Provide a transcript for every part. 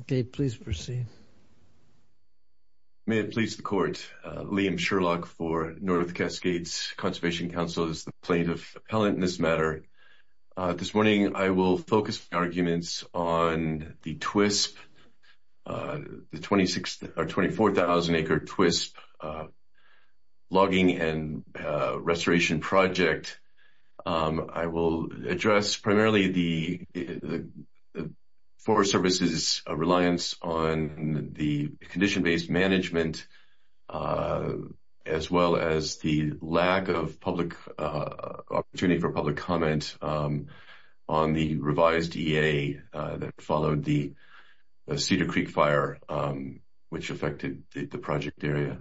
Okay, please proceed. May it please the court, Liam Sherlock for North Cascades Conservation Council as the plaintiff appellant in this matter. This morning I will focus my arguments on the TWSP, the 26 or 24,000 acre TWSP logging and restoration project. I will address primarily the Forest Service's reliance on the condition-based management as well as the lack of public opportunity for public comment on the revised EA that followed the Cedar Creek fire which affected the project area.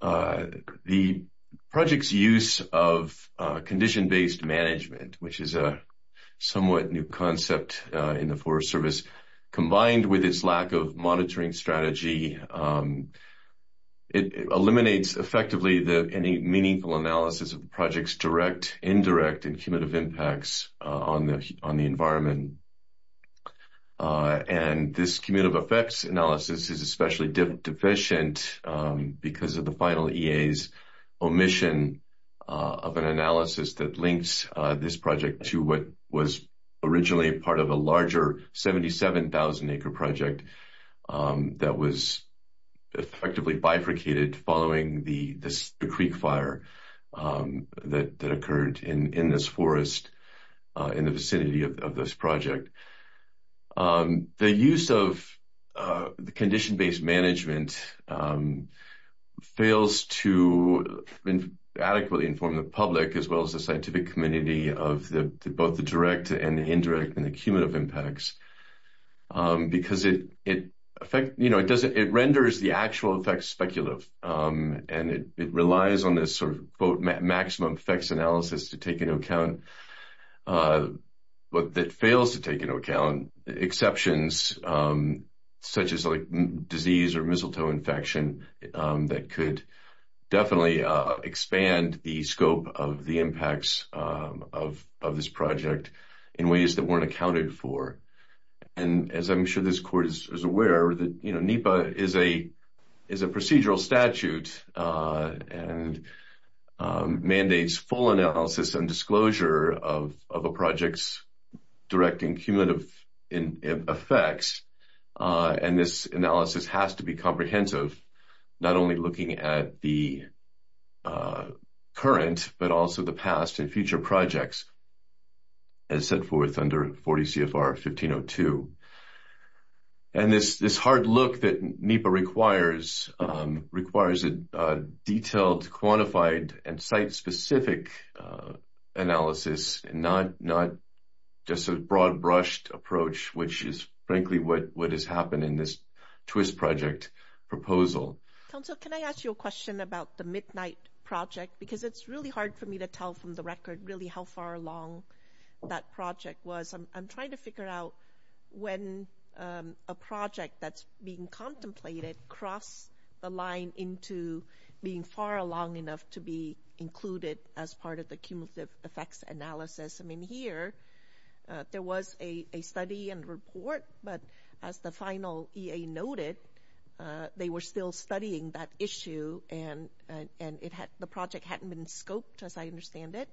The project's use of condition-based management, which is a somewhat new concept in the Forest Service, combined with its lack of monitoring strategy eliminates effectively any meaningful analysis of the project's direct, analysis is especially deficient because of the final EA's omission of an analysis that links this project to what was originally part of a larger 77,000 acre project that was effectively bifurcated following the Creek fire that occurred in this forest in the vicinity of this project. The use of the condition-based management fails to adequately inform the public as well as the scientific community of both the direct and the indirect and the cumulative impacts because it renders the actual effects speculative and it relies on this sort of maximum effects analysis to take into account but that fails to take into account exceptions such as like disease or mistletoe infection that could definitely expand the scope of the impacts of this project in ways that weren't in statute and mandates full analysis and disclosure of a project's direct and cumulative effects and this analysis has to be comprehensive not only looking at the current but also the past and future projects as set forth under 40 CFR 1502. And this hard look that NEPA requires requires a detailed quantified and site-specific analysis and not just a broad brushed approach which is frankly what has happened in this twist project proposal. Council can I ask you a question about the midnight project because it's really hard for me to tell from the record really how far along that project was. I'm trying to figure out when a project that's being contemplated cross the line into being far along enough to be included as part of the cumulative effects analysis. I mean here there was a study and report but as the final EA noted they were still studying that issue and the project hadn't been scoped as I understand it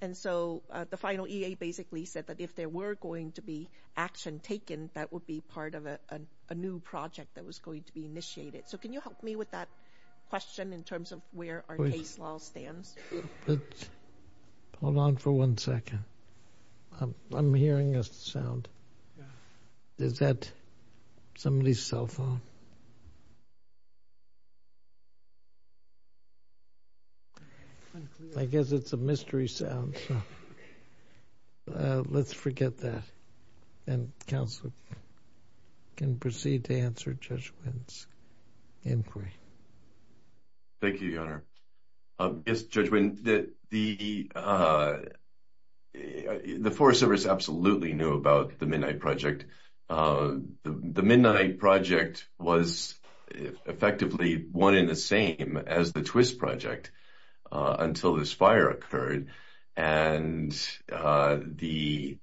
and so the final EA basically said that if there were going to be action taken that would be part of a new project that was going to be initiated. So can you help me with that question in terms of where our case law stands? Hold on for one second. I'm hearing a sound. Is that somebody's cell phone? I guess it's a mystery sound so let's forget that and council can proceed to answer Judge Wynn's inquiry. Thank you your honor. Yes Judge Wynn, the Forest Service absolutely knew about the midnight project. The midnight project was effectively one in the same as the twist project until this fire occurred and in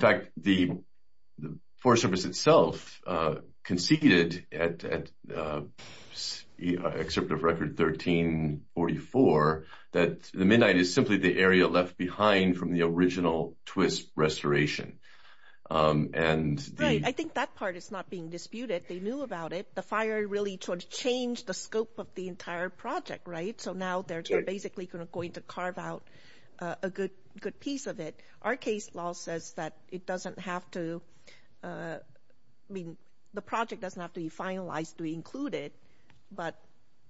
fact the Forest Service itself conceded at excerpt of record 1344 that the midnight is simply the area left behind from the original twist restoration. I think that part is not being disputed. They knew about it. The fire really sort of changed the scope of the entire project right so now they're basically going to carve out a good piece of it. Our case law says that it doesn't have to, I mean the project doesn't have to be finalized to include it but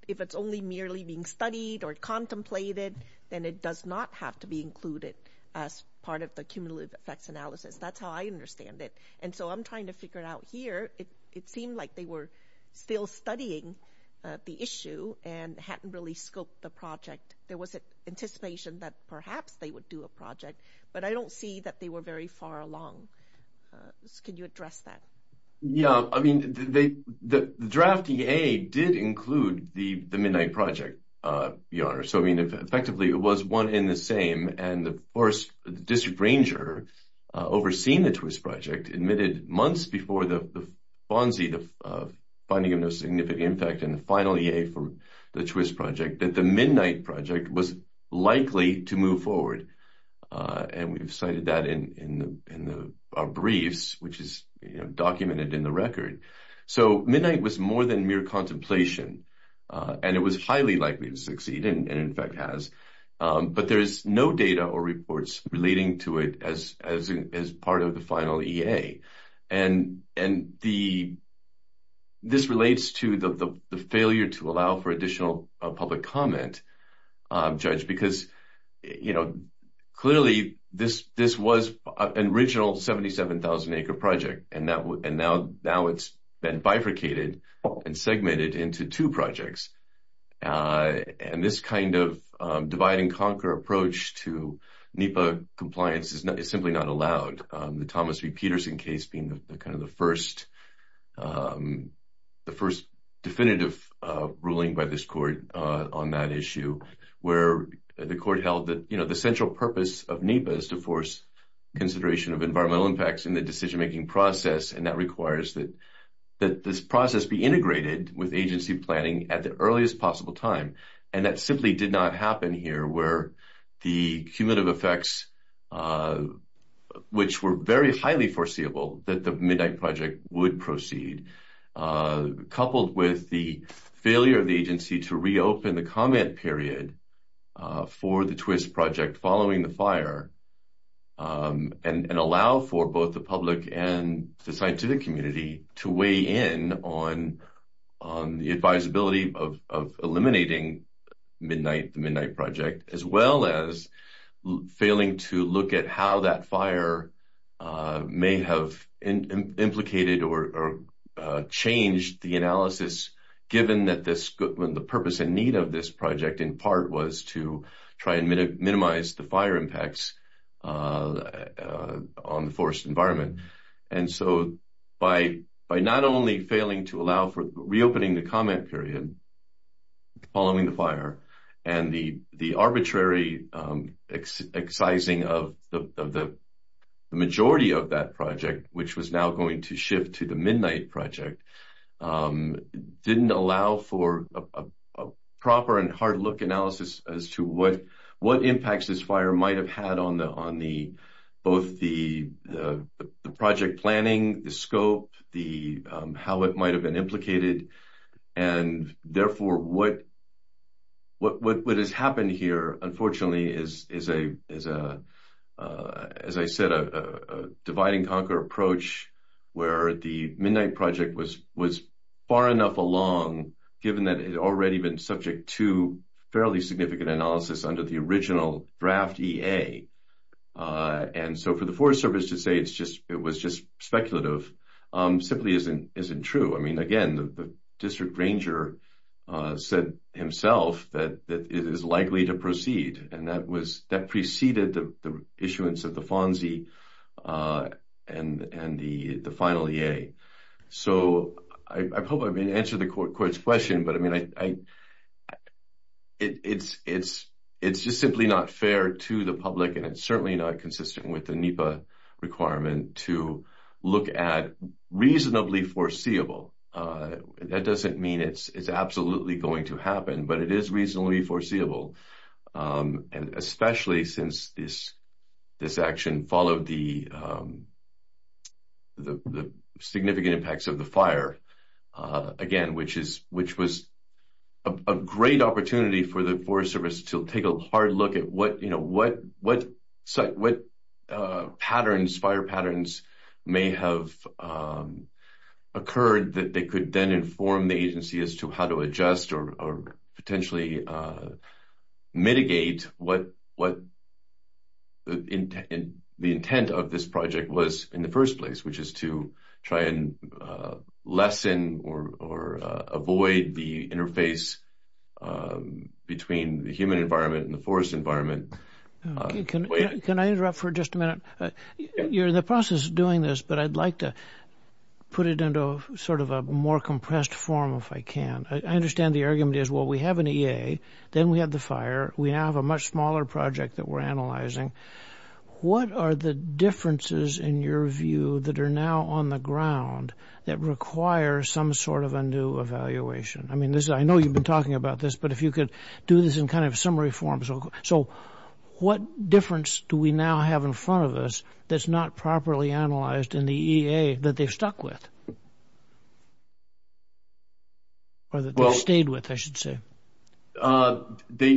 if it's only merely being studied or contemplated then it does not have to be included as part of the cumulative effects analysis. That's how I understand it and so I'm trying to figure it out here. It seemed like they were still studying the issue and hadn't really scoped the project. There was an anticipation that perhaps they would do a project but I don't see that they were very far along. Can you address that? Yeah I mean the draft EA did include the midnight project. So I mean effectively it was one in the same and the Forest District Ranger overseeing the twist project admitted months before the the FONSI, the finding of no significant impact, and the final EA for the twist project that the midnight project was likely to move forward and we've cited that in our briefs which is documented in the record. So midnight was more than mere contemplation and it was highly likely to succeed and in fact has but there is no data or reports relating to it as part of the final EA and this relates to the failure to allow for additional public comment Judge because you know clearly this was an original 77,000 acre project and now it's been bifurcated and segmented into two projects and this kind of divide and conquer approach to NEPA compliance is simply not allowed. The Thomas V. Peterson case being the kind of the first the first definitive ruling by this court on that issue where the court held that you know the central purpose of NEPA is to force consideration of environmental impacts in the decision-making process and that requires that that this process be integrated with agency planning at the earliest possible time and that simply did not happen here where the cumulative effects which were very highly foreseeable that the midnight project would proceed coupled with the failure of the agency to reopen the comment period for the twist project following the fire and allow for both the public and the scientific community to weigh in on the advisability of eliminating midnight the midnight project as well as failing to look at how that fire may have implicated or changed the analysis given that this good when the purpose and need of this project in part was to try and minimize the fire impacts on the forest environment and so by not only failing to allow for reopening the comment period following the fire and the the arbitrary excising of the majority of that project which was now going to shift to the midnight project didn't allow for a proper and hard look analysis as to what impacts this fire might have had on the on the both the the project planning the scope the how it might have been implicated and therefore what what what has happened here unfortunately is is a is a as I said a dividing conquer approach where the midnight project was was far enough along given that it already been subject to fairly significant analysis under the original draft ea and so for the forest service to say it's just it was just speculative um simply isn't isn't true I mean again the district ranger uh said himself that that it is likely to proceed and that was that preceded the the issuance of the fonzie uh and and the the final ea so I hope I've been answered the court's question but I mean I it's it's it's just simply not fair to the public and it's certainly not consistent with the NEPA requirement to look at reasonably foreseeable uh that doesn't mean it's it's absolutely going to happen but it is reasonably foreseeable um and especially since this this action followed the um the the significant impacts of the fire uh again which is which was a great opportunity for the forest service to take a hard look at what you know what what what uh patterns fire patterns may have um occurred that they could then inform the agency as to how to adjust or or potentially uh mitigate what what the intent the intent of this project was in the first place which is to try and uh lessen or or uh avoid the interface um between the human environment and the forest environment can I interrupt for just a minute you're in the the argument is well we have an ea then we have the fire we now have a much smaller project that we're analyzing what are the differences in your view that are now on the ground that require some sort of a new evaluation I mean this I know you've been talking about this but if you could do this in kind of summary form so so what difference do we now have in front of us that's not properly analyzed in the ea that they've stuck with or that they've stayed with I should say uh they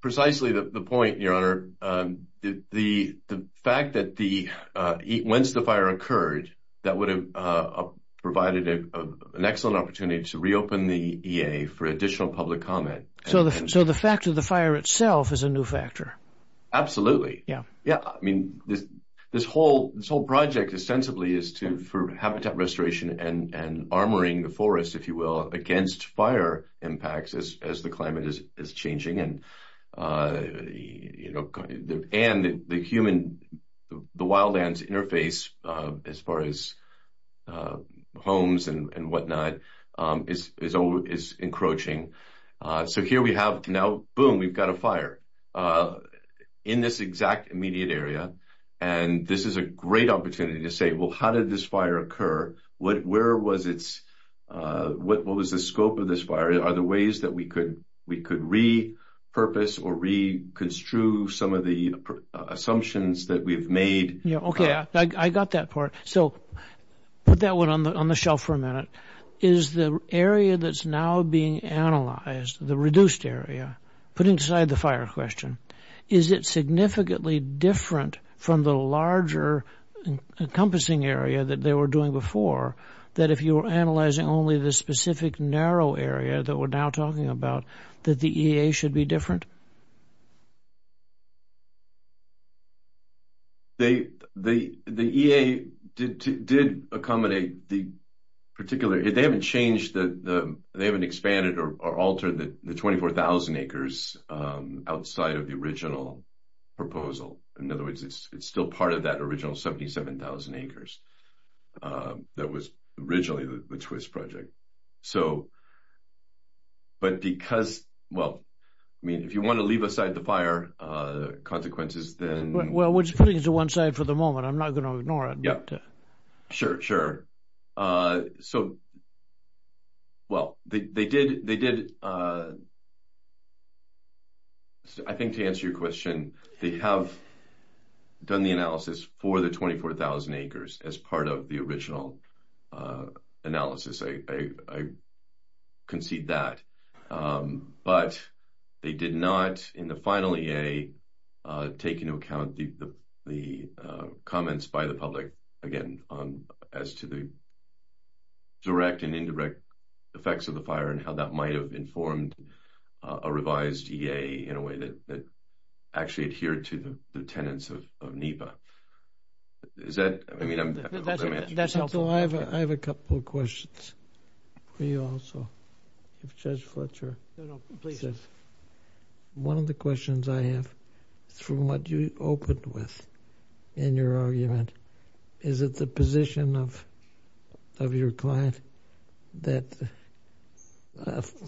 precisely the the point your honor um the the fact that the uh once the fire occurred that would have uh provided a an excellent opportunity to reopen the ea for additional public comment so the so fact of the fire itself is a new factor absolutely yeah yeah I mean this this whole this whole project ostensibly is to for habitat restoration and and armoring the forest if you will against fire impacts as as the climate is is changing and uh you know and the human the wild lands interface uh as far as uh homes and and whatnot um is is encroaching so here we have now boom we've got a fire uh in this exact immediate area and this is a great opportunity to say well how did this fire occur what where was its uh what was the scope of this are the ways that we could we could repurpose or reconstruct some of the assumptions that we've made yeah okay I got that part so put that one on the on the shelf for a minute is the area that's now being analyzed the reduced area put inside the fire question is it significantly different from the larger encompassing area that they were doing before that if you were analyzing only the narrow area that we're now talking about that the ea should be different they the the ea did did accommodate the particular they haven't changed the the they haven't expanded or altered the 24,000 acres um outside of the original proposal in other words it's it's still part of that original 77,000 acres um that was originally the twist project so but because well I mean if you want to leave aside the fire uh consequences then well we're just putting it to one side for the moment I'm not going to ignore it yeah sure sure uh so well they they did they did uh I think to answer your question they have done the analysis for the 24,000 acres as part of the original uh analysis I concede that um but they did not in the final ea uh take into account the the comments by the public again on as to the direct and indirect effects of the fire and how that might have informed a revised ea in a way that that actually adhered to the the tenets of of NEPA is that I mean I'm that's helpful I have I have a couple of questions for you also if Judge Fletcher one of the questions I have from what you opened with in your argument is it the position of of your client that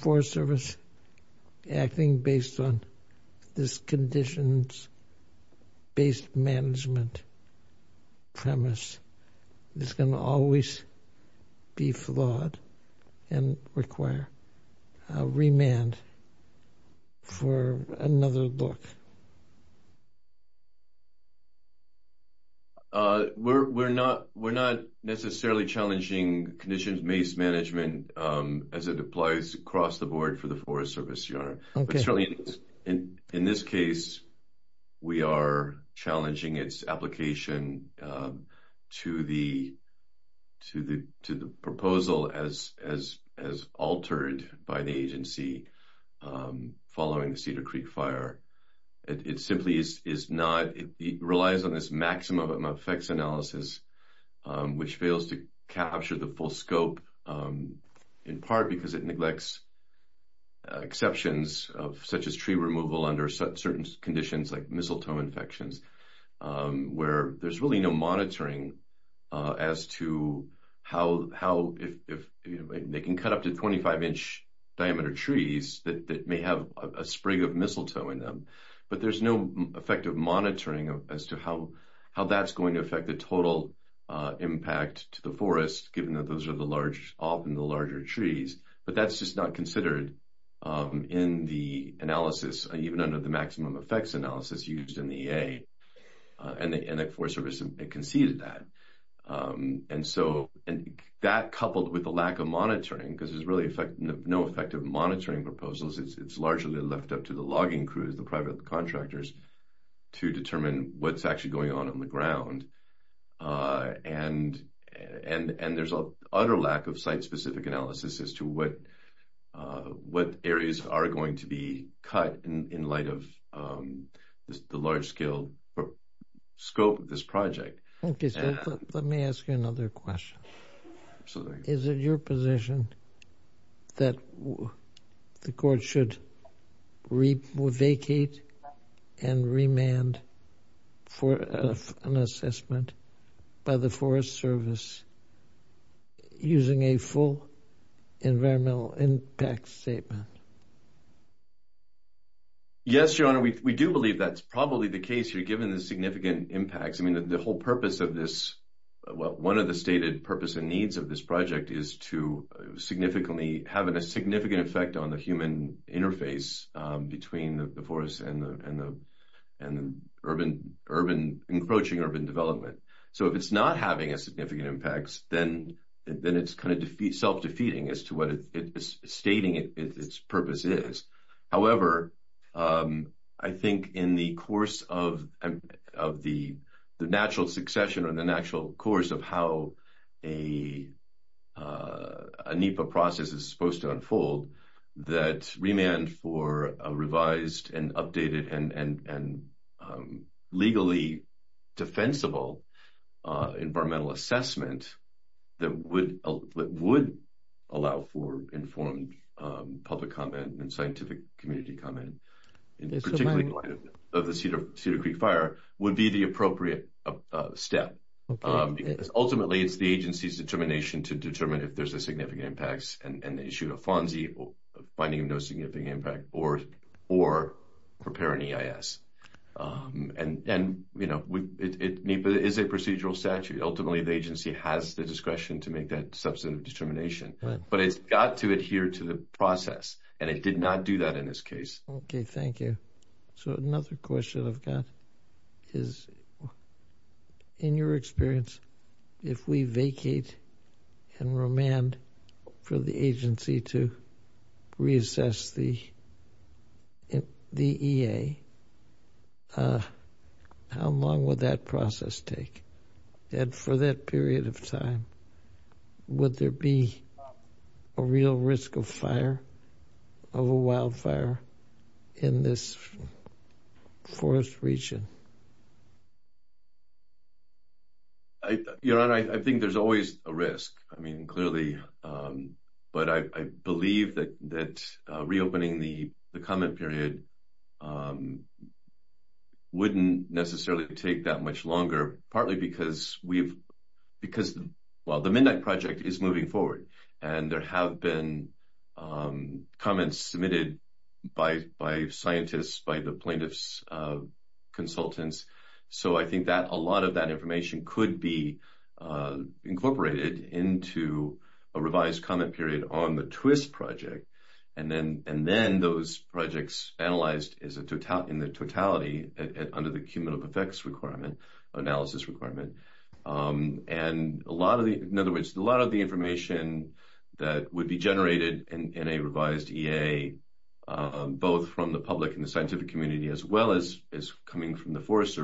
Forest Service acting based on this conditions-based management premise is going to always be flawed and require a remand for another look uh we're we're not we're not necessarily challenging conditions-based management um as it applies across the board for the Forest Service your honor but certainly in in this case we are challenging its application um to the to the to the proposal as as as altered by the agency um following the Cedar Creek fire it simply is is not it relies on this maximum effects analysis which fails to capture the full scope in part because it neglects exceptions of such as tree removal under certain conditions like mistletoe infections where there's really no monitoring uh as to how how if if you know they can cut up to 25 inch diameter trees that may have a spring of mistletoe in them but there's no effective monitoring as to how how that's going to affect the total uh impact to the forest given that those are the large often the larger trees but that's just not considered um in the analysis even under the maximum effects analysis used in the EA and the Forest Service conceded that um and so and that coupled with the lack of monitoring because there's really effect no effective monitoring proposals it's largely left up to the logging crews the private contractors to determine what's actually going on on the ground uh and and and there's a utter lack of site-specific analysis as to what uh what areas are going to be cut in in light of um the large or scope of this project okay so let me ask you another question so is it your position that the court should re vacate and remand for an assessment by the Forest Service using a full environmental impact statement yes your honor we do believe that's probably the case you're given the significant impacts i mean the whole purpose of this well one of the stated purpose and needs of this project is to significantly having a significant effect on the human interface um between the forest and the and the and the urban urban encroaching urban development so if it's not having a significant impact then then it's kind of defeat self-defeating as to what it is stating it it's purpose is however um i think in the course of of the the natural succession or the natural course of how a uh a nipa process is supposed to unfold that remand for a revised and updated and and and legally defensible uh environmental assessment that would would allow for informed um public and scientific community comment in particularly of the cedar cedar creek fire would be the appropriate uh step um because ultimately it's the agency's determination to determine if there's a significant impacts and the issue of fonzie finding no significant impact or or prepare an eis um and and you know we it is a procedural statute ultimately the agency has the discretion to make that substantive determination but it's got to adhere to the process and it did not do that in this case okay thank you so another question i've got is in your experience if we vacate and remand for the agency to reassess the the ea uh how long would that process take and for that period of time would there be a real risk of fire of a wildfire in this forest region i you know i think there's always a risk i mean clearly um but i i believe that that uh reopening the the comment period um wouldn't necessarily take that much longer partly because we've because well the midnight project is moving forward and there have been um comments submitted by by scientists by the plaintiffs uh consultants so i think that a lot of that information could be uh incorporated into a revised comment period on the twist project and then and then those projects analyzed is a total in the totality under the cumulative effects requirement analysis requirement and a lot of the in other words a lot of the information that would be generated in a revised ea both from the public and the scientific community as well as is coming from the forest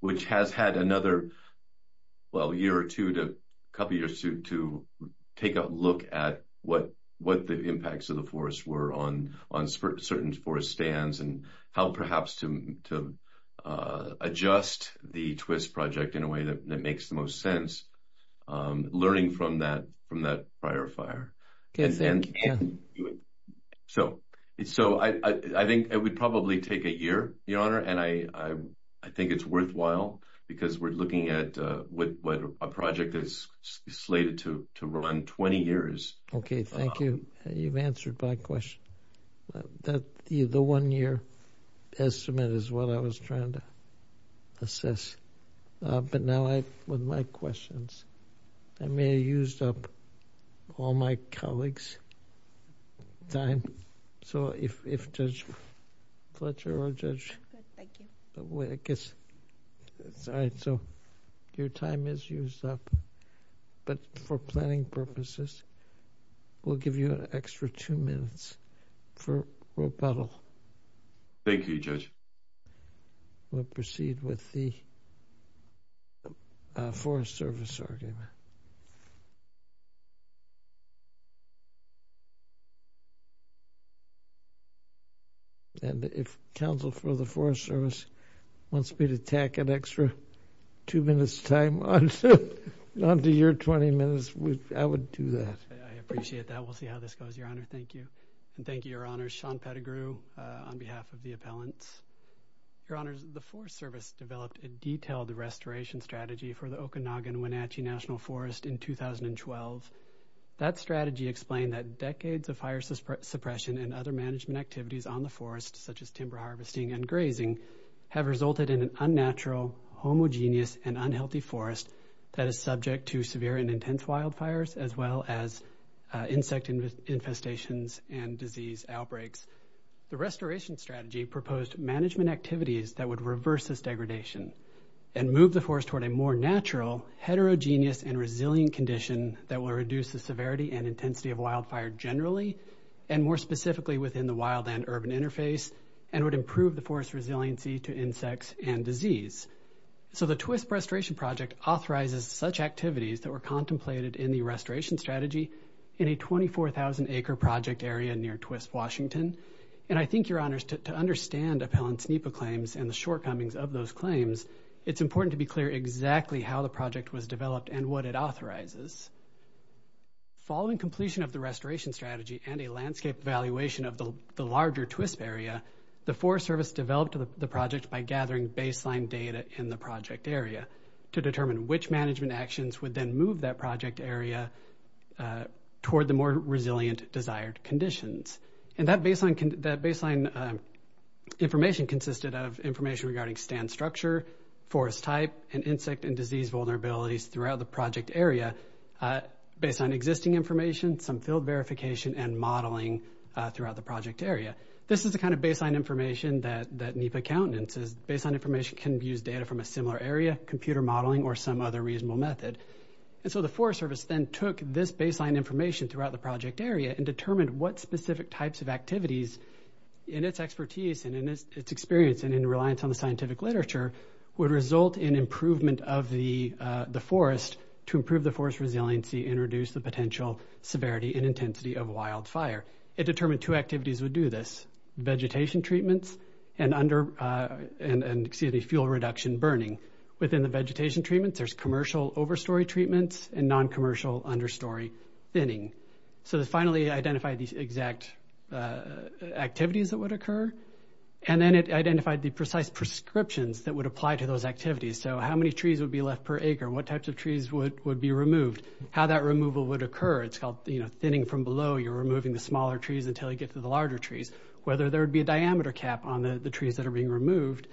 which has had another well year or two to a couple years to to take a look at what what the impacts of the forest were on on certain forest stands and how perhaps to to uh adjust the twist project in a way that makes the most sense um learning from that from that prior fire okay thank you so so i i think it would probably take a year your honor and i i i think it's worthwhile because we're looking at uh what what a project is slated to to run 20 years okay thank you you've answered my question that the the one year estimate is what i was trying to assess uh but now i with my questions i may have used up all my colleagues time so if if judge fletcher or judge thank you i guess it's all right so your time is used up but for planning purposes we'll give you an extra two minutes for rebuttal thank you judge we'll proceed with the forest service argument and if council for the forest service wants me to tack an extra two minutes time on onto your 20 minutes i would do that i appreciate that we'll see how this goes your honor thank you and thank you your honor sean pedigree on behalf of the appellants your honors the forest service developed a detailed restoration strategy for the okanagan wenatchee national forest in 2012 that strategy explained that decades of fire suppression and other management activities on the forest such as timber harvesting and grazing have resulted in an unnatural homogeneous and unhealthy forest that is subject to severe and intense wildfires as well as insect infestations and disease outbreaks the restoration strategy proposed management activities that would reverse this degradation and move the force toward a more natural heterogeneous and resilient condition that will reduce the severity and intensity of wildfire generally and more specifically within the wild and urban interface and would improve the forest resiliency to insects and disease so the twist restoration project authorizes such activities that were in the restoration strategy in a 24,000 acre project area near twist washington and i think your honors to understand appellants nipa claims and the shortcomings of those claims it's important to be clear exactly how the project was developed and what it authorizes following completion of the restoration strategy and a landscape evaluation of the larger twist area the forest service developed the project by gathering baseline data in the project area to determine which management actions would then move that project area toward the more resilient desired conditions and that baseline can that baseline information consisted of information regarding stand structure forest type and insect and disease vulnerabilities throughout the project area based on existing information some field verification and modeling throughout the project area this is the kind of baseline information that that nipa countenance baseline information can use data from a similar area computer modeling or some other reasonable method and so the forest service then took this baseline information throughout the project area and determined what specific types of activities in its expertise and in its experience and in reliance on the scientific literature would result in improvement of the forest to improve the forest resiliency and reduce the potential severity and intensity of wildfire it determined two activities would do this vegetation treatments and under uh and and excuse me fuel reduction burning within the vegetation treatments there's commercial overstory treatments and non-commercial understory thinning so to finally identify these exact uh activities that would occur and then it identified the precise prescriptions that would apply to those activities so how many trees would be left per acre what types of trees would would be removed how that removal would occur it's called you know thinning from below you're removing the smaller trees until you get to the larger trees whether there would be a diameter cap on the trees that are being removed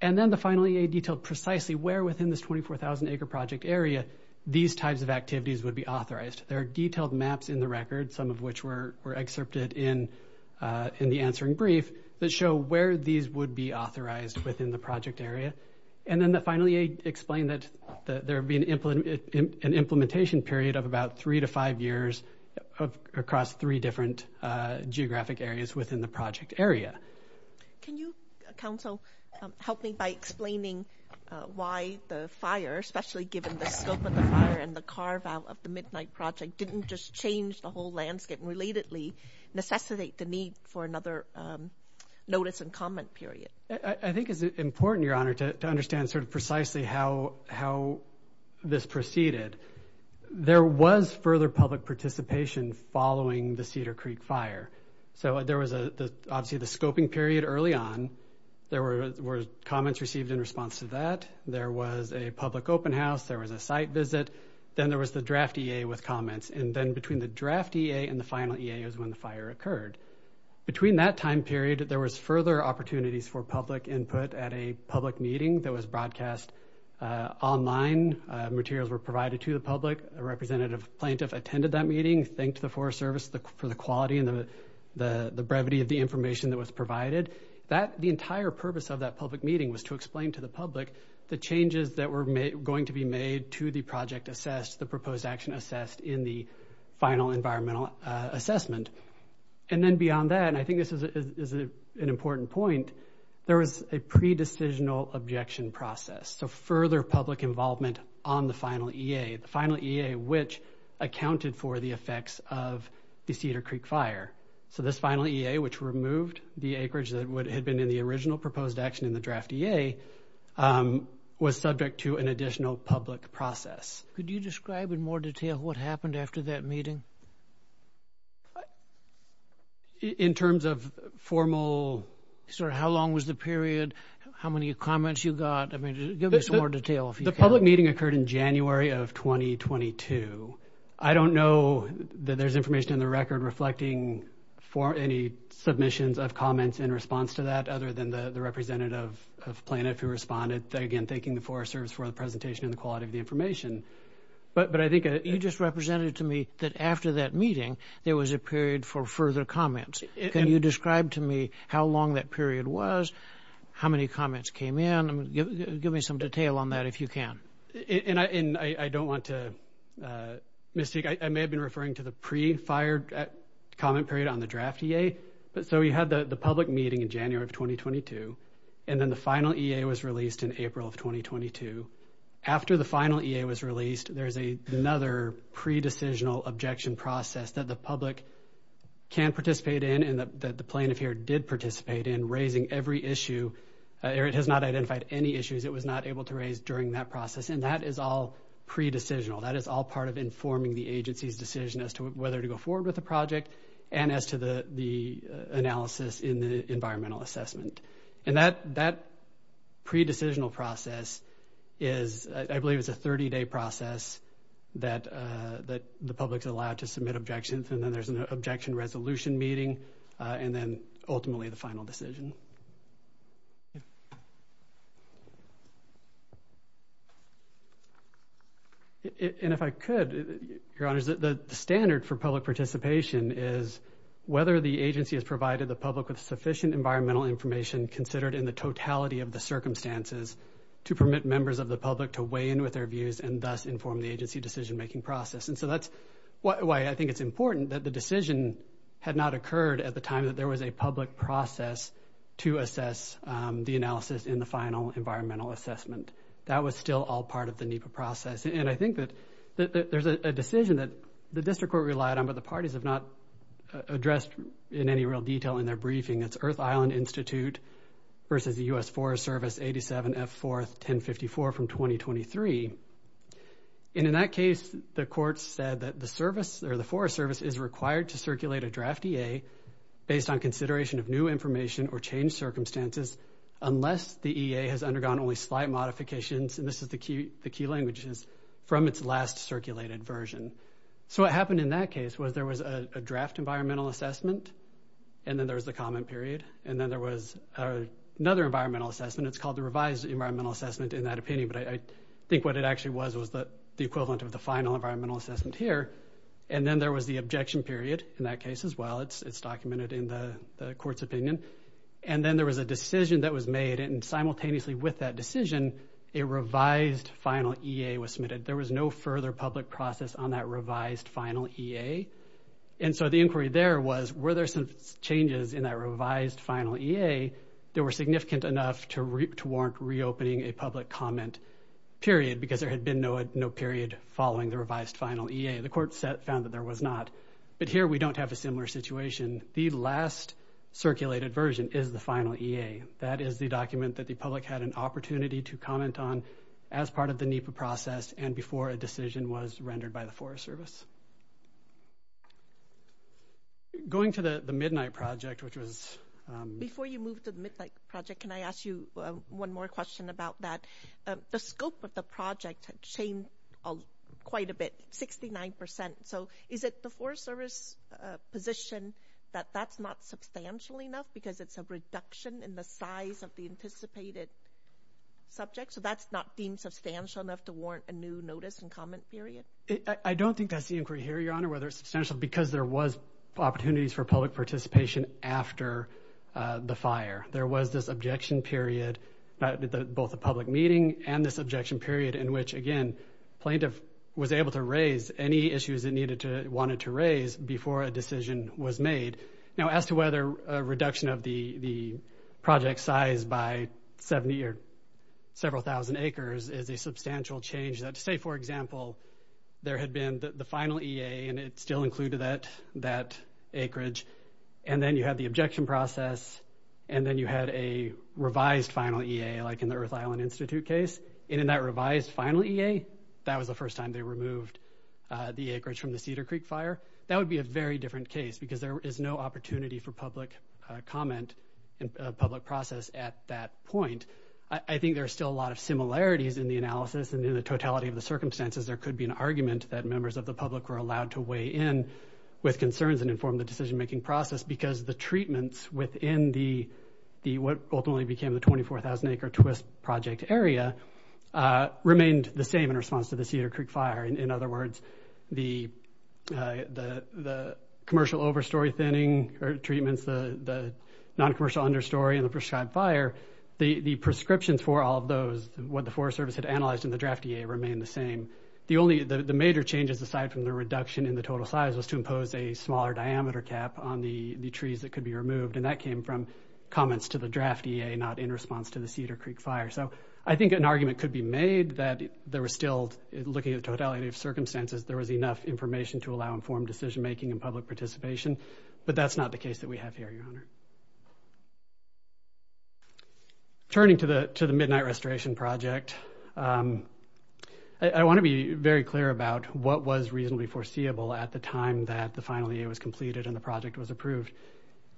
and then the finally a detailed precisely where within this 24,000 acre project area these types of activities would be authorized there are detailed maps in the record some of which were were excerpted in uh in the answering brief that show where these would be authorized within the project area and then the finally explained that that there would be an implement an implementation period of about three to five years of across three different uh geographic areas within the project area can you counsel help me by explaining uh why the fire especially given the scope of the fire and the carve out of the midnight project didn't just change the whole landscape relatedly necessitate the need for another um notice and comment period i think it's important your honor to understand sort of precisely how how this proceeded there was further public participation following the cedar creek fire so there was a obviously the scoping period early on there were comments received in response to that there was a public open house there was a site visit then there was the draft ea with comments and then between the draft ea and the final ea is when the fire occurred between that time period there was further opportunities for public input at a public meeting that was broadcast uh online materials were provided to the public a representative plaintiff attended that meeting thanked the forest service for the quality and the the the brevity of the information that was provided that the entire purpose of that public meeting was to explain to the public the changes that were made going to be made to the project assessed the proposed action assessed in the final environmental uh assessment and then beyond that and i think this is an important point there was a pre-decisional objection process so further public involvement on the final ea the final ea which accounted for the effects of the cedar creek fire so this final ea which removed the acreage that would have been in the original proposed action in the draft ea was subject to an additional public process could you describe in more detail what happened after that meeting in terms of formal sort of how long was the period how many comments you got i mean give me some more detail if the public meeting occurred in january of 2022 i don't know that there's information in the record reflecting for any submissions of comments in response to that other than the the representative of planet who responded again thanking the forest service for presentation and the quality of the information but but i think you just represented to me that after that meeting there was a period for further comments can you describe to me how long that period was how many comments came in give me some detail on that if you can and i and i don't want to uh mystique i may have been referring to the pre-fired comment period on the draft ea but so we had the the public meeting in january of 2022 and then the final ea was released in april of 2022 after the final ea was released there's a another pre-decisional objection process that the public can participate in and that the plaintiff here did participate in raising every issue eric has not identified any issues it was not able to raise during that process and that is all pre-decisional that is all part of informing the agency's decision as to whether to go forward with the project and as to the the analysis in the environmental assessment and that that pre-decisional process is i believe it's a 30-day process that uh that the public is allowed to submit objections and then there's an objection resolution meeting and then ultimately the final decision and if i could your honor the standard for public participation is whether the agency has provided the public with sufficient environmental information considered in the totality of the circumstances to permit members of the public to weigh in with their views and thus inform the agency decision making process and so that's why i think it's important that the decision had not occurred at the time that there was a public process to assess the analysis in the final environmental assessment that was still all part of the nipa process and i think that that there's a decision that the district court relied on but the parties have not addressed in any real detail in their briefing it's earth island institute versus the u.s forest service 87 f fourth 1054 from 2023 and in that case the court said that the service or the forest service is required to circulate a draft ea based on consideration of new information or change circumstances unless the ea has undergone only slight modifications and this is the key the key languages from its last circulated version so what happened in that case was there was a draft environmental assessment and then there was the comment period and then there was another environmental assessment it's called the revised environmental assessment in that opinion but i think what it actually was was the the equivalent of the final environmental assessment here and then there was the objection period in that case as well it's it's documented in the the court's opinion and then there was a decision that was made and simultaneously with that decision a revised final ea was submitted there was no further public process on that revised final ea and so the inquiry there was were there some changes in that revised final ea that were significant enough to warrant reopening a public comment period because there had been no no period following the revised final ea the court set found that there was not but here we don't have a similar situation the last circulated version is the final ea that is the document that the public had an opportunity to comment on as part of the nipa process and before a decision was rendered by the forest service going to the the midnight project which was before you move to the midnight project can i ask you one more question about that the scope of the project changed quite a bit 69 so is it the forest service position that that's not substantial enough because it's a reduction in the size of the anticipated subject so that's not deemed substantial enough to warrant a new notice and comment period i don't think that's the inquiry here your honor whether it's substantial because there was opportunities for public participation after the fire there was this objection period that both the public meeting and this objection period in which again plaintiff was able to raise any issues that needed to wanted to raise before a decision was made now as to whether a reduction of the the project size by 70 or several thousand acres is a substantial change that to say for example there had been the final ea and it still included that that acreage and then you had the objection process and then you had a revised final ea like in the earth island institute case and in that revised final ea that was the first time they removed the acreage from the cedar creek fire that would be a very different case because there is no opportunity for public comment and public process at that point i think there's still a lot of similarities in the analysis and in the totality of the circumstances there could be an argument that members of the public were allowed to weigh in with concerns and inform the decision-making process because the treatments within the the what ultimately became the 24,000 acre twist project area remained the same in response to the cedar creek fire in other words the uh the the commercial overstory thinning or treatments the the non-commercial understory and the prescribed fire the the prescriptions for all those what the forest service had analyzed in the draft ea remained the same the only the major changes aside from the reduction in the total size was to impose a smaller diameter cap on the the trees that could be removed and that came from comments to the draft ea not in response to the cedar creek fire so i think an argument could be made that there was still looking at the totality of circumstances there was enough information to allow informed decision making and public participation but that's not the case that we have here your honor turning to the to the midnight restoration project um i want to be very clear about what was reasonably foreseeable at the time that the final year was completed and the project was approved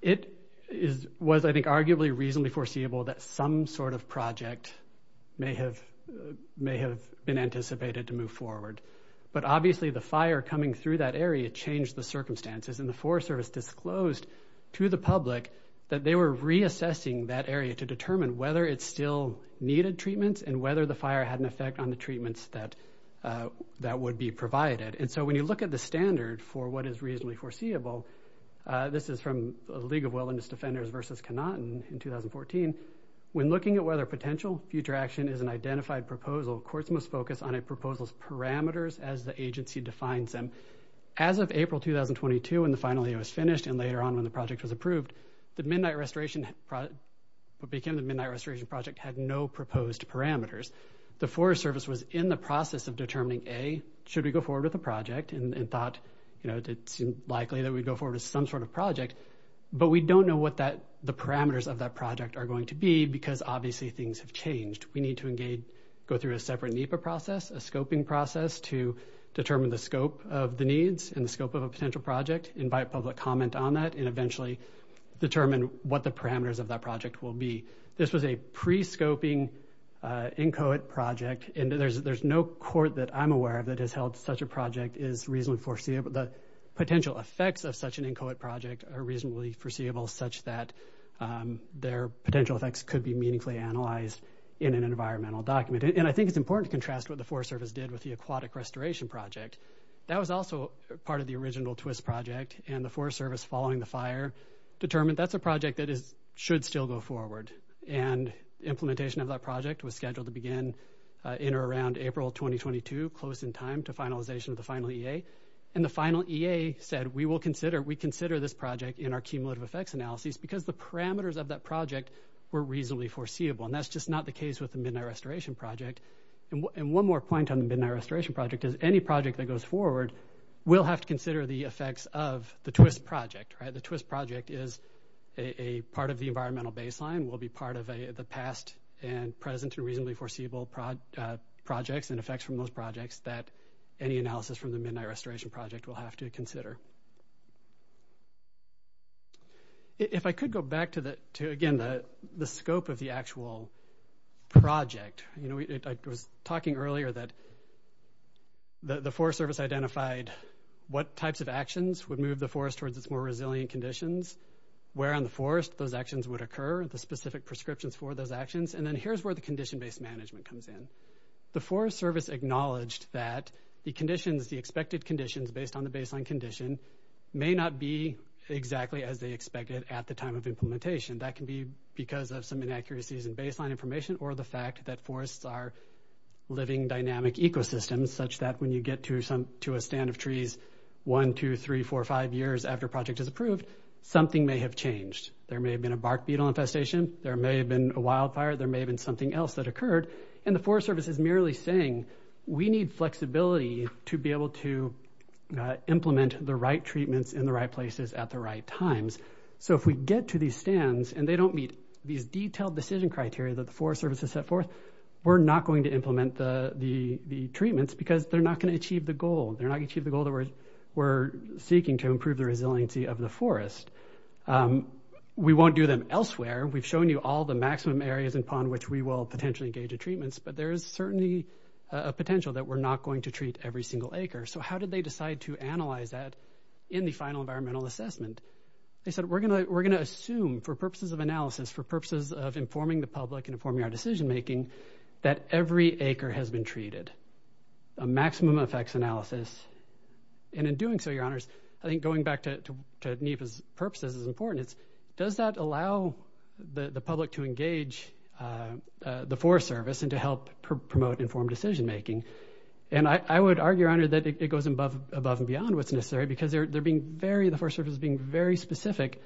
it is was i think arguably reasonably foreseeable that some sort of project may have may have been anticipated to move forward but obviously the fire coming through that area changed the circumstances and the forest service disclosed to the public that they were reassessing that area to determine whether it still needed treatments and whether the fire had an effect on the treatments that uh that would be provided and so when you look at the standard for what is reasonably foreseeable uh this is from the league of wilderness defenders versus cannot in 2014 when looking at whether potential future action is an identified proposal courts must focus on a proposal's parameters as the agency defines them as of april 2022 when the final year was finished and later on when the project was approved the midnight restoration what became the midnight restoration project had no proposed parameters the forest service was in the process of determining a should we go forward with the project and thought you know it seemed likely that we'd go forward with some sort of project but we don't know what that the parameters of that project are going to be because obviously things have changed we need to engage go through a process a scoping process to determine the scope of the needs and the scope of a potential project invite public comment on that and eventually determine what the parameters of that project will be this was a pre-scoping uh inchoate project and there's there's no court that i'm aware of that has held such a project is reasonably foreseeable the potential effects of such an inchoate project are reasonably foreseeable such that um their potential effects could be meaningfully analyzed in an environmental document and i think it's important to contrast what the forest service did with the aquatic restoration project that was also part of the original twist project and the forest service following the fire determined that's a project that is should still go forward and implementation of that project was scheduled to begin uh in or around april 2022 close in time to finalization of the final ea and the final ea said we will consider we consider this project in our cumulative effects analyses because the parameters of that project were reasonably foreseeable and that's just not the case with the midnight restoration project and one more point on the midnight restoration project is any project that goes forward will have to consider the effects of the twist project right the twist project is a part of the environmental baseline will be part of a the past and present and reasonably foreseeable projects and effects from those projects that any analysis from the midnight restoration project will have to consider if i could go back to the to again the the scope of the actual project you know it was talking earlier that the forest service identified what types of actions would move the forest towards its more resilient conditions where on the forest those actions would occur the specific prescriptions for those actions and then here's where the condition-based management comes in the forest service acknowledged that the conditions the expected conditions based on the baseline condition may not be exactly as they expected at the time of implementation that can be because of some inaccuracies in baseline information or the fact that forests are living dynamic ecosystems such that when you get to some to a stand of trees one two three four five years after project is approved something may have changed there may have been a bark beetle infestation there may have been a wildfire there may have been something else that occurred and the forest service is merely saying we need flexibility to be able to implement the right treatments in the right places at the right times so if we get to these stands and they don't meet these detailed decision criteria that the forest service has set forth we're not going to implement the the the treatments because they're not going to achieve the goal they're not going to achieve the goal that we're we're seeking to improve the resiliency of the forest we won't do them elsewhere we've shown you all the maximum areas in pond which we will potentially engage in treatments but there is certainly a potential that we're not going to treat every single acre so how did they decide to analyze that in the final environmental assessment they said we're gonna we're gonna assume for purposes of analysis for purposes of informing the public informing our decision making that every acre has been treated a maximum effects analysis and in doing so your honors i think going back to to need his purposes is important it's does that allow the the public to engage uh the forest service and to help promote informed decision making and i i would argue your honor that it goes above above and beyond what's necessary because they're they're being very the first service being very specific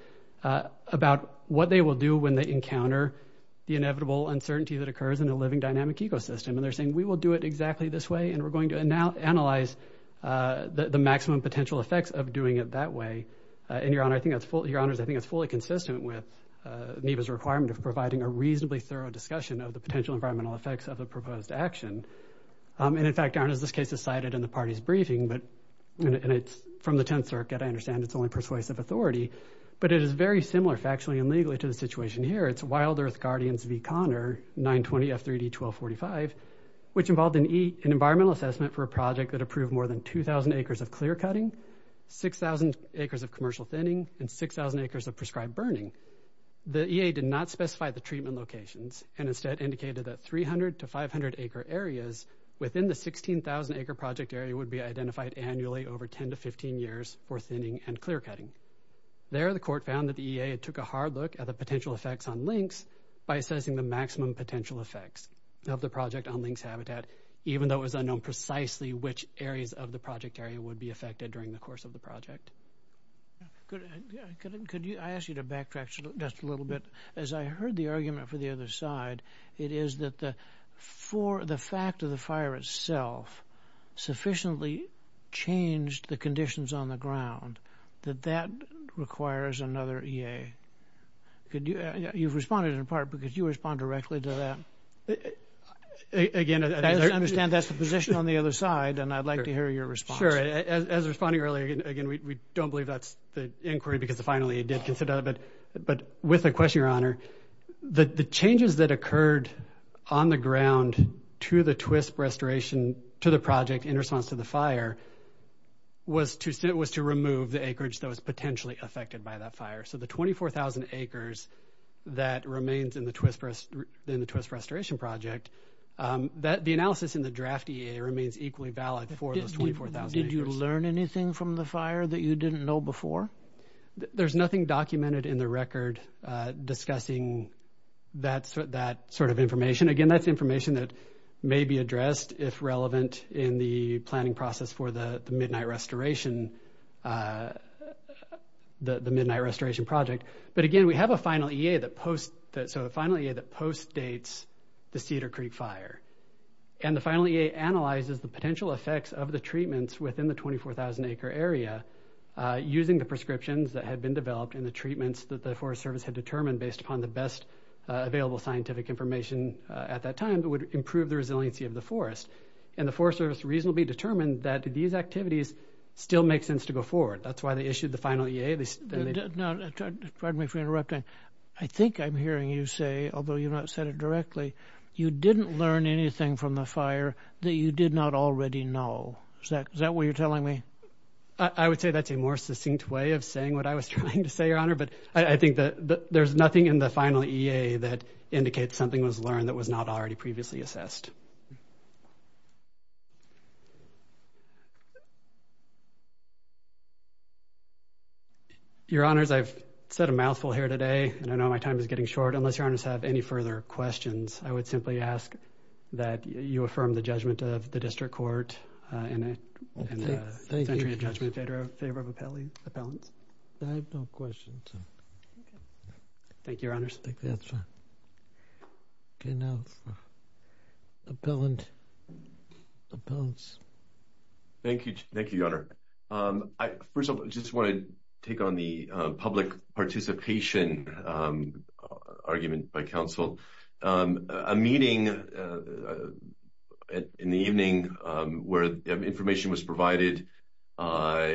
uh about what they will do when they encounter the inevitable uncertainty that occurs in a living dynamic ecosystem and they're saying we will do it exactly this way and we're going to now analyze uh the maximum potential effects of doing it that way and your honor i think that's full your honors i think it's fully consistent with uh neva's requirement of providing a reasonably thorough discussion of the potential environmental effects of the proposed action um and in fact aren't as this case is cited in the party's briefing but and it's from the 10th circuit i understand it's only persuasive authority but it is very similar factually and legally to the situation here it's wild earth guardians v 920 f 3d 1245 which involved an e an environmental assessment for a project that approved more than 2 000 acres of clear cutting 6 000 acres of commercial thinning and 6 000 acres of prescribed burning the ea did not specify the treatment locations and instead indicated that 300 to 500 acre areas within the 16 000 acre project area would be identified annually over 10 to 15 years for thinning and clear cutting there the court found that the ea took a hard look at the potential effects on links by assessing the maximum potential effects of the project on links habitat even though it was unknown precisely which areas of the project area would be affected during the course of the project could could you i ask you to backtrack just a little bit as i heard the argument for the other side it is that the for the fact of the fire itself sufficiently changed the conditions on the ground that that requires another ea could you you've responded in part because you respond directly to that again as i understand that's the position on the other side and i'd like to hear your response as responding earlier again we don't believe that's the inquiry because finally it did consider but but with a question your honor the the changes that occurred on the ground to the twist restoration to the project in response to the fire was to sit was to remove the acreage that was potentially affected by that fire so the 24 000 acres that remains in the twist in the twist restoration project um that the analysis in the draft ea remains equally valid for those 24 000 did you learn anything from the fire that you know before there's nothing documented in the record uh discussing that that sort of information again that's information that may be addressed if relevant in the planning process for the midnight restoration uh the midnight restoration project but again we have a final ea that post that so the final year that post dates the cedar creek fire and the final ea analyzes the potential effects of the treatments within the 24 000 acre area using the prescriptions that had been developed and the treatments that the forest service had determined based upon the best available scientific information at that time that would improve the resiliency of the forest and the forest service reasonably determined that these activities still make sense to go forward that's why they issued the final ea they did not pardon me for interrupting i think i'm hearing you say although you've not said directly you didn't learn anything from the fire that you did not already know is that is that what you're telling me i would say that's a more succinct way of saying what i was trying to say your honor but i think that there's nothing in the final ea that indicates something was learned that was not already previously assessed your honors i've said a mouthful here today and i know my time is getting short unless your honors have any further questions i would simply ask that you affirm the judgment of the district court in a century of judgment favor of favor of appellee appellants i have no questions thank you your honors i think that's fine okay now appellant appellants thank you thank you your honor um i first of all just want to take on the public participation um argument by council um a meeting in the evening um where information was provided uh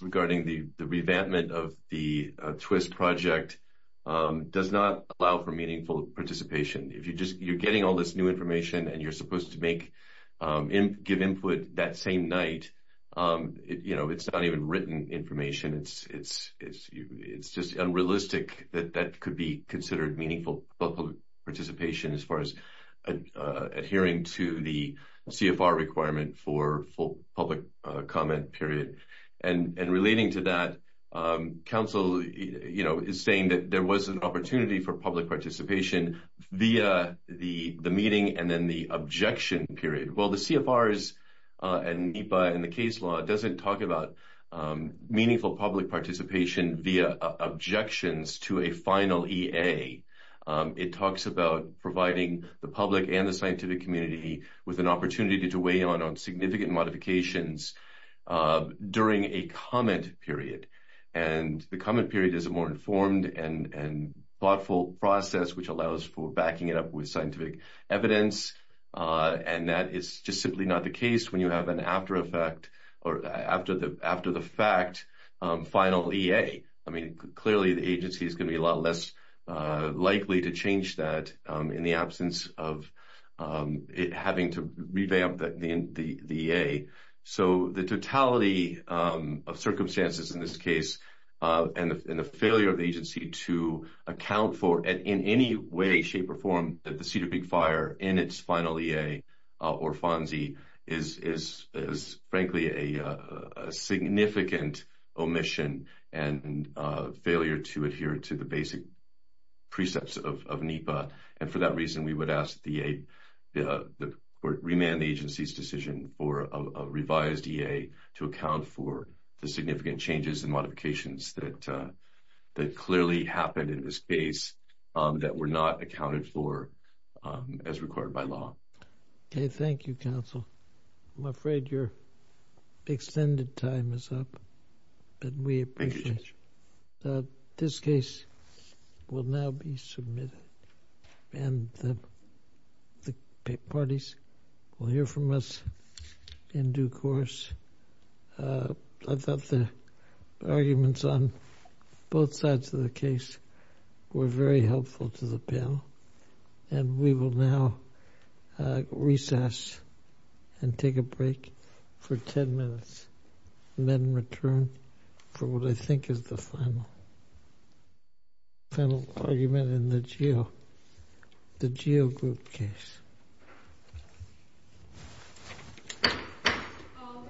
regarding the the revampment of the twist project um does not allow for meaningful participation if you just you're getting all this new information and you're supposed to make um give input that same night um you know it's not even written information it's it's it's it's just unrealistic that that could be considered meaningful public participation as far as adhering to the cfr requirement for full public uh comment period and and relating to that um council you know is saying that there was an opportunity for public participation via the the meeting and then the objection period well the cfrs and nipa and the case law doesn't talk about meaningful public participation via objections to a final ea it talks about providing the public and the scientific community with an opportunity to weigh on on significant modifications uh during a comment period and the comment period is a more informed and and thoughtful process which allows for backing it up with scientific evidence uh and that is just simply not the case when you have an after effect or after the after the fact final ea i mean clearly the agency is going to be a lot less uh likely to change that um in the absence of um it having to revamp that in the the a so the totality um of circumstances in this case uh and the failure of the agency to account for and in any way shape or form that the cedar or fonzi is is is frankly a a significant omission and a failure to adhere to the basic precepts of nipa and for that reason we would ask the a the court remand the agency's decision for a revised ea to account for the significant changes and modifications that uh that clearly happened in the space um that were not accounted for um as required by law okay thank you counsel i'm afraid your extended time is up but we appreciate that this case will now be submitted and the the parties will hear from us in due course uh i thought the arguments on both sides of the case were very helpful to the panel and we will now recess and take a break for 10 minutes and then return for what i think is the final final argument in the geo the geo group case all right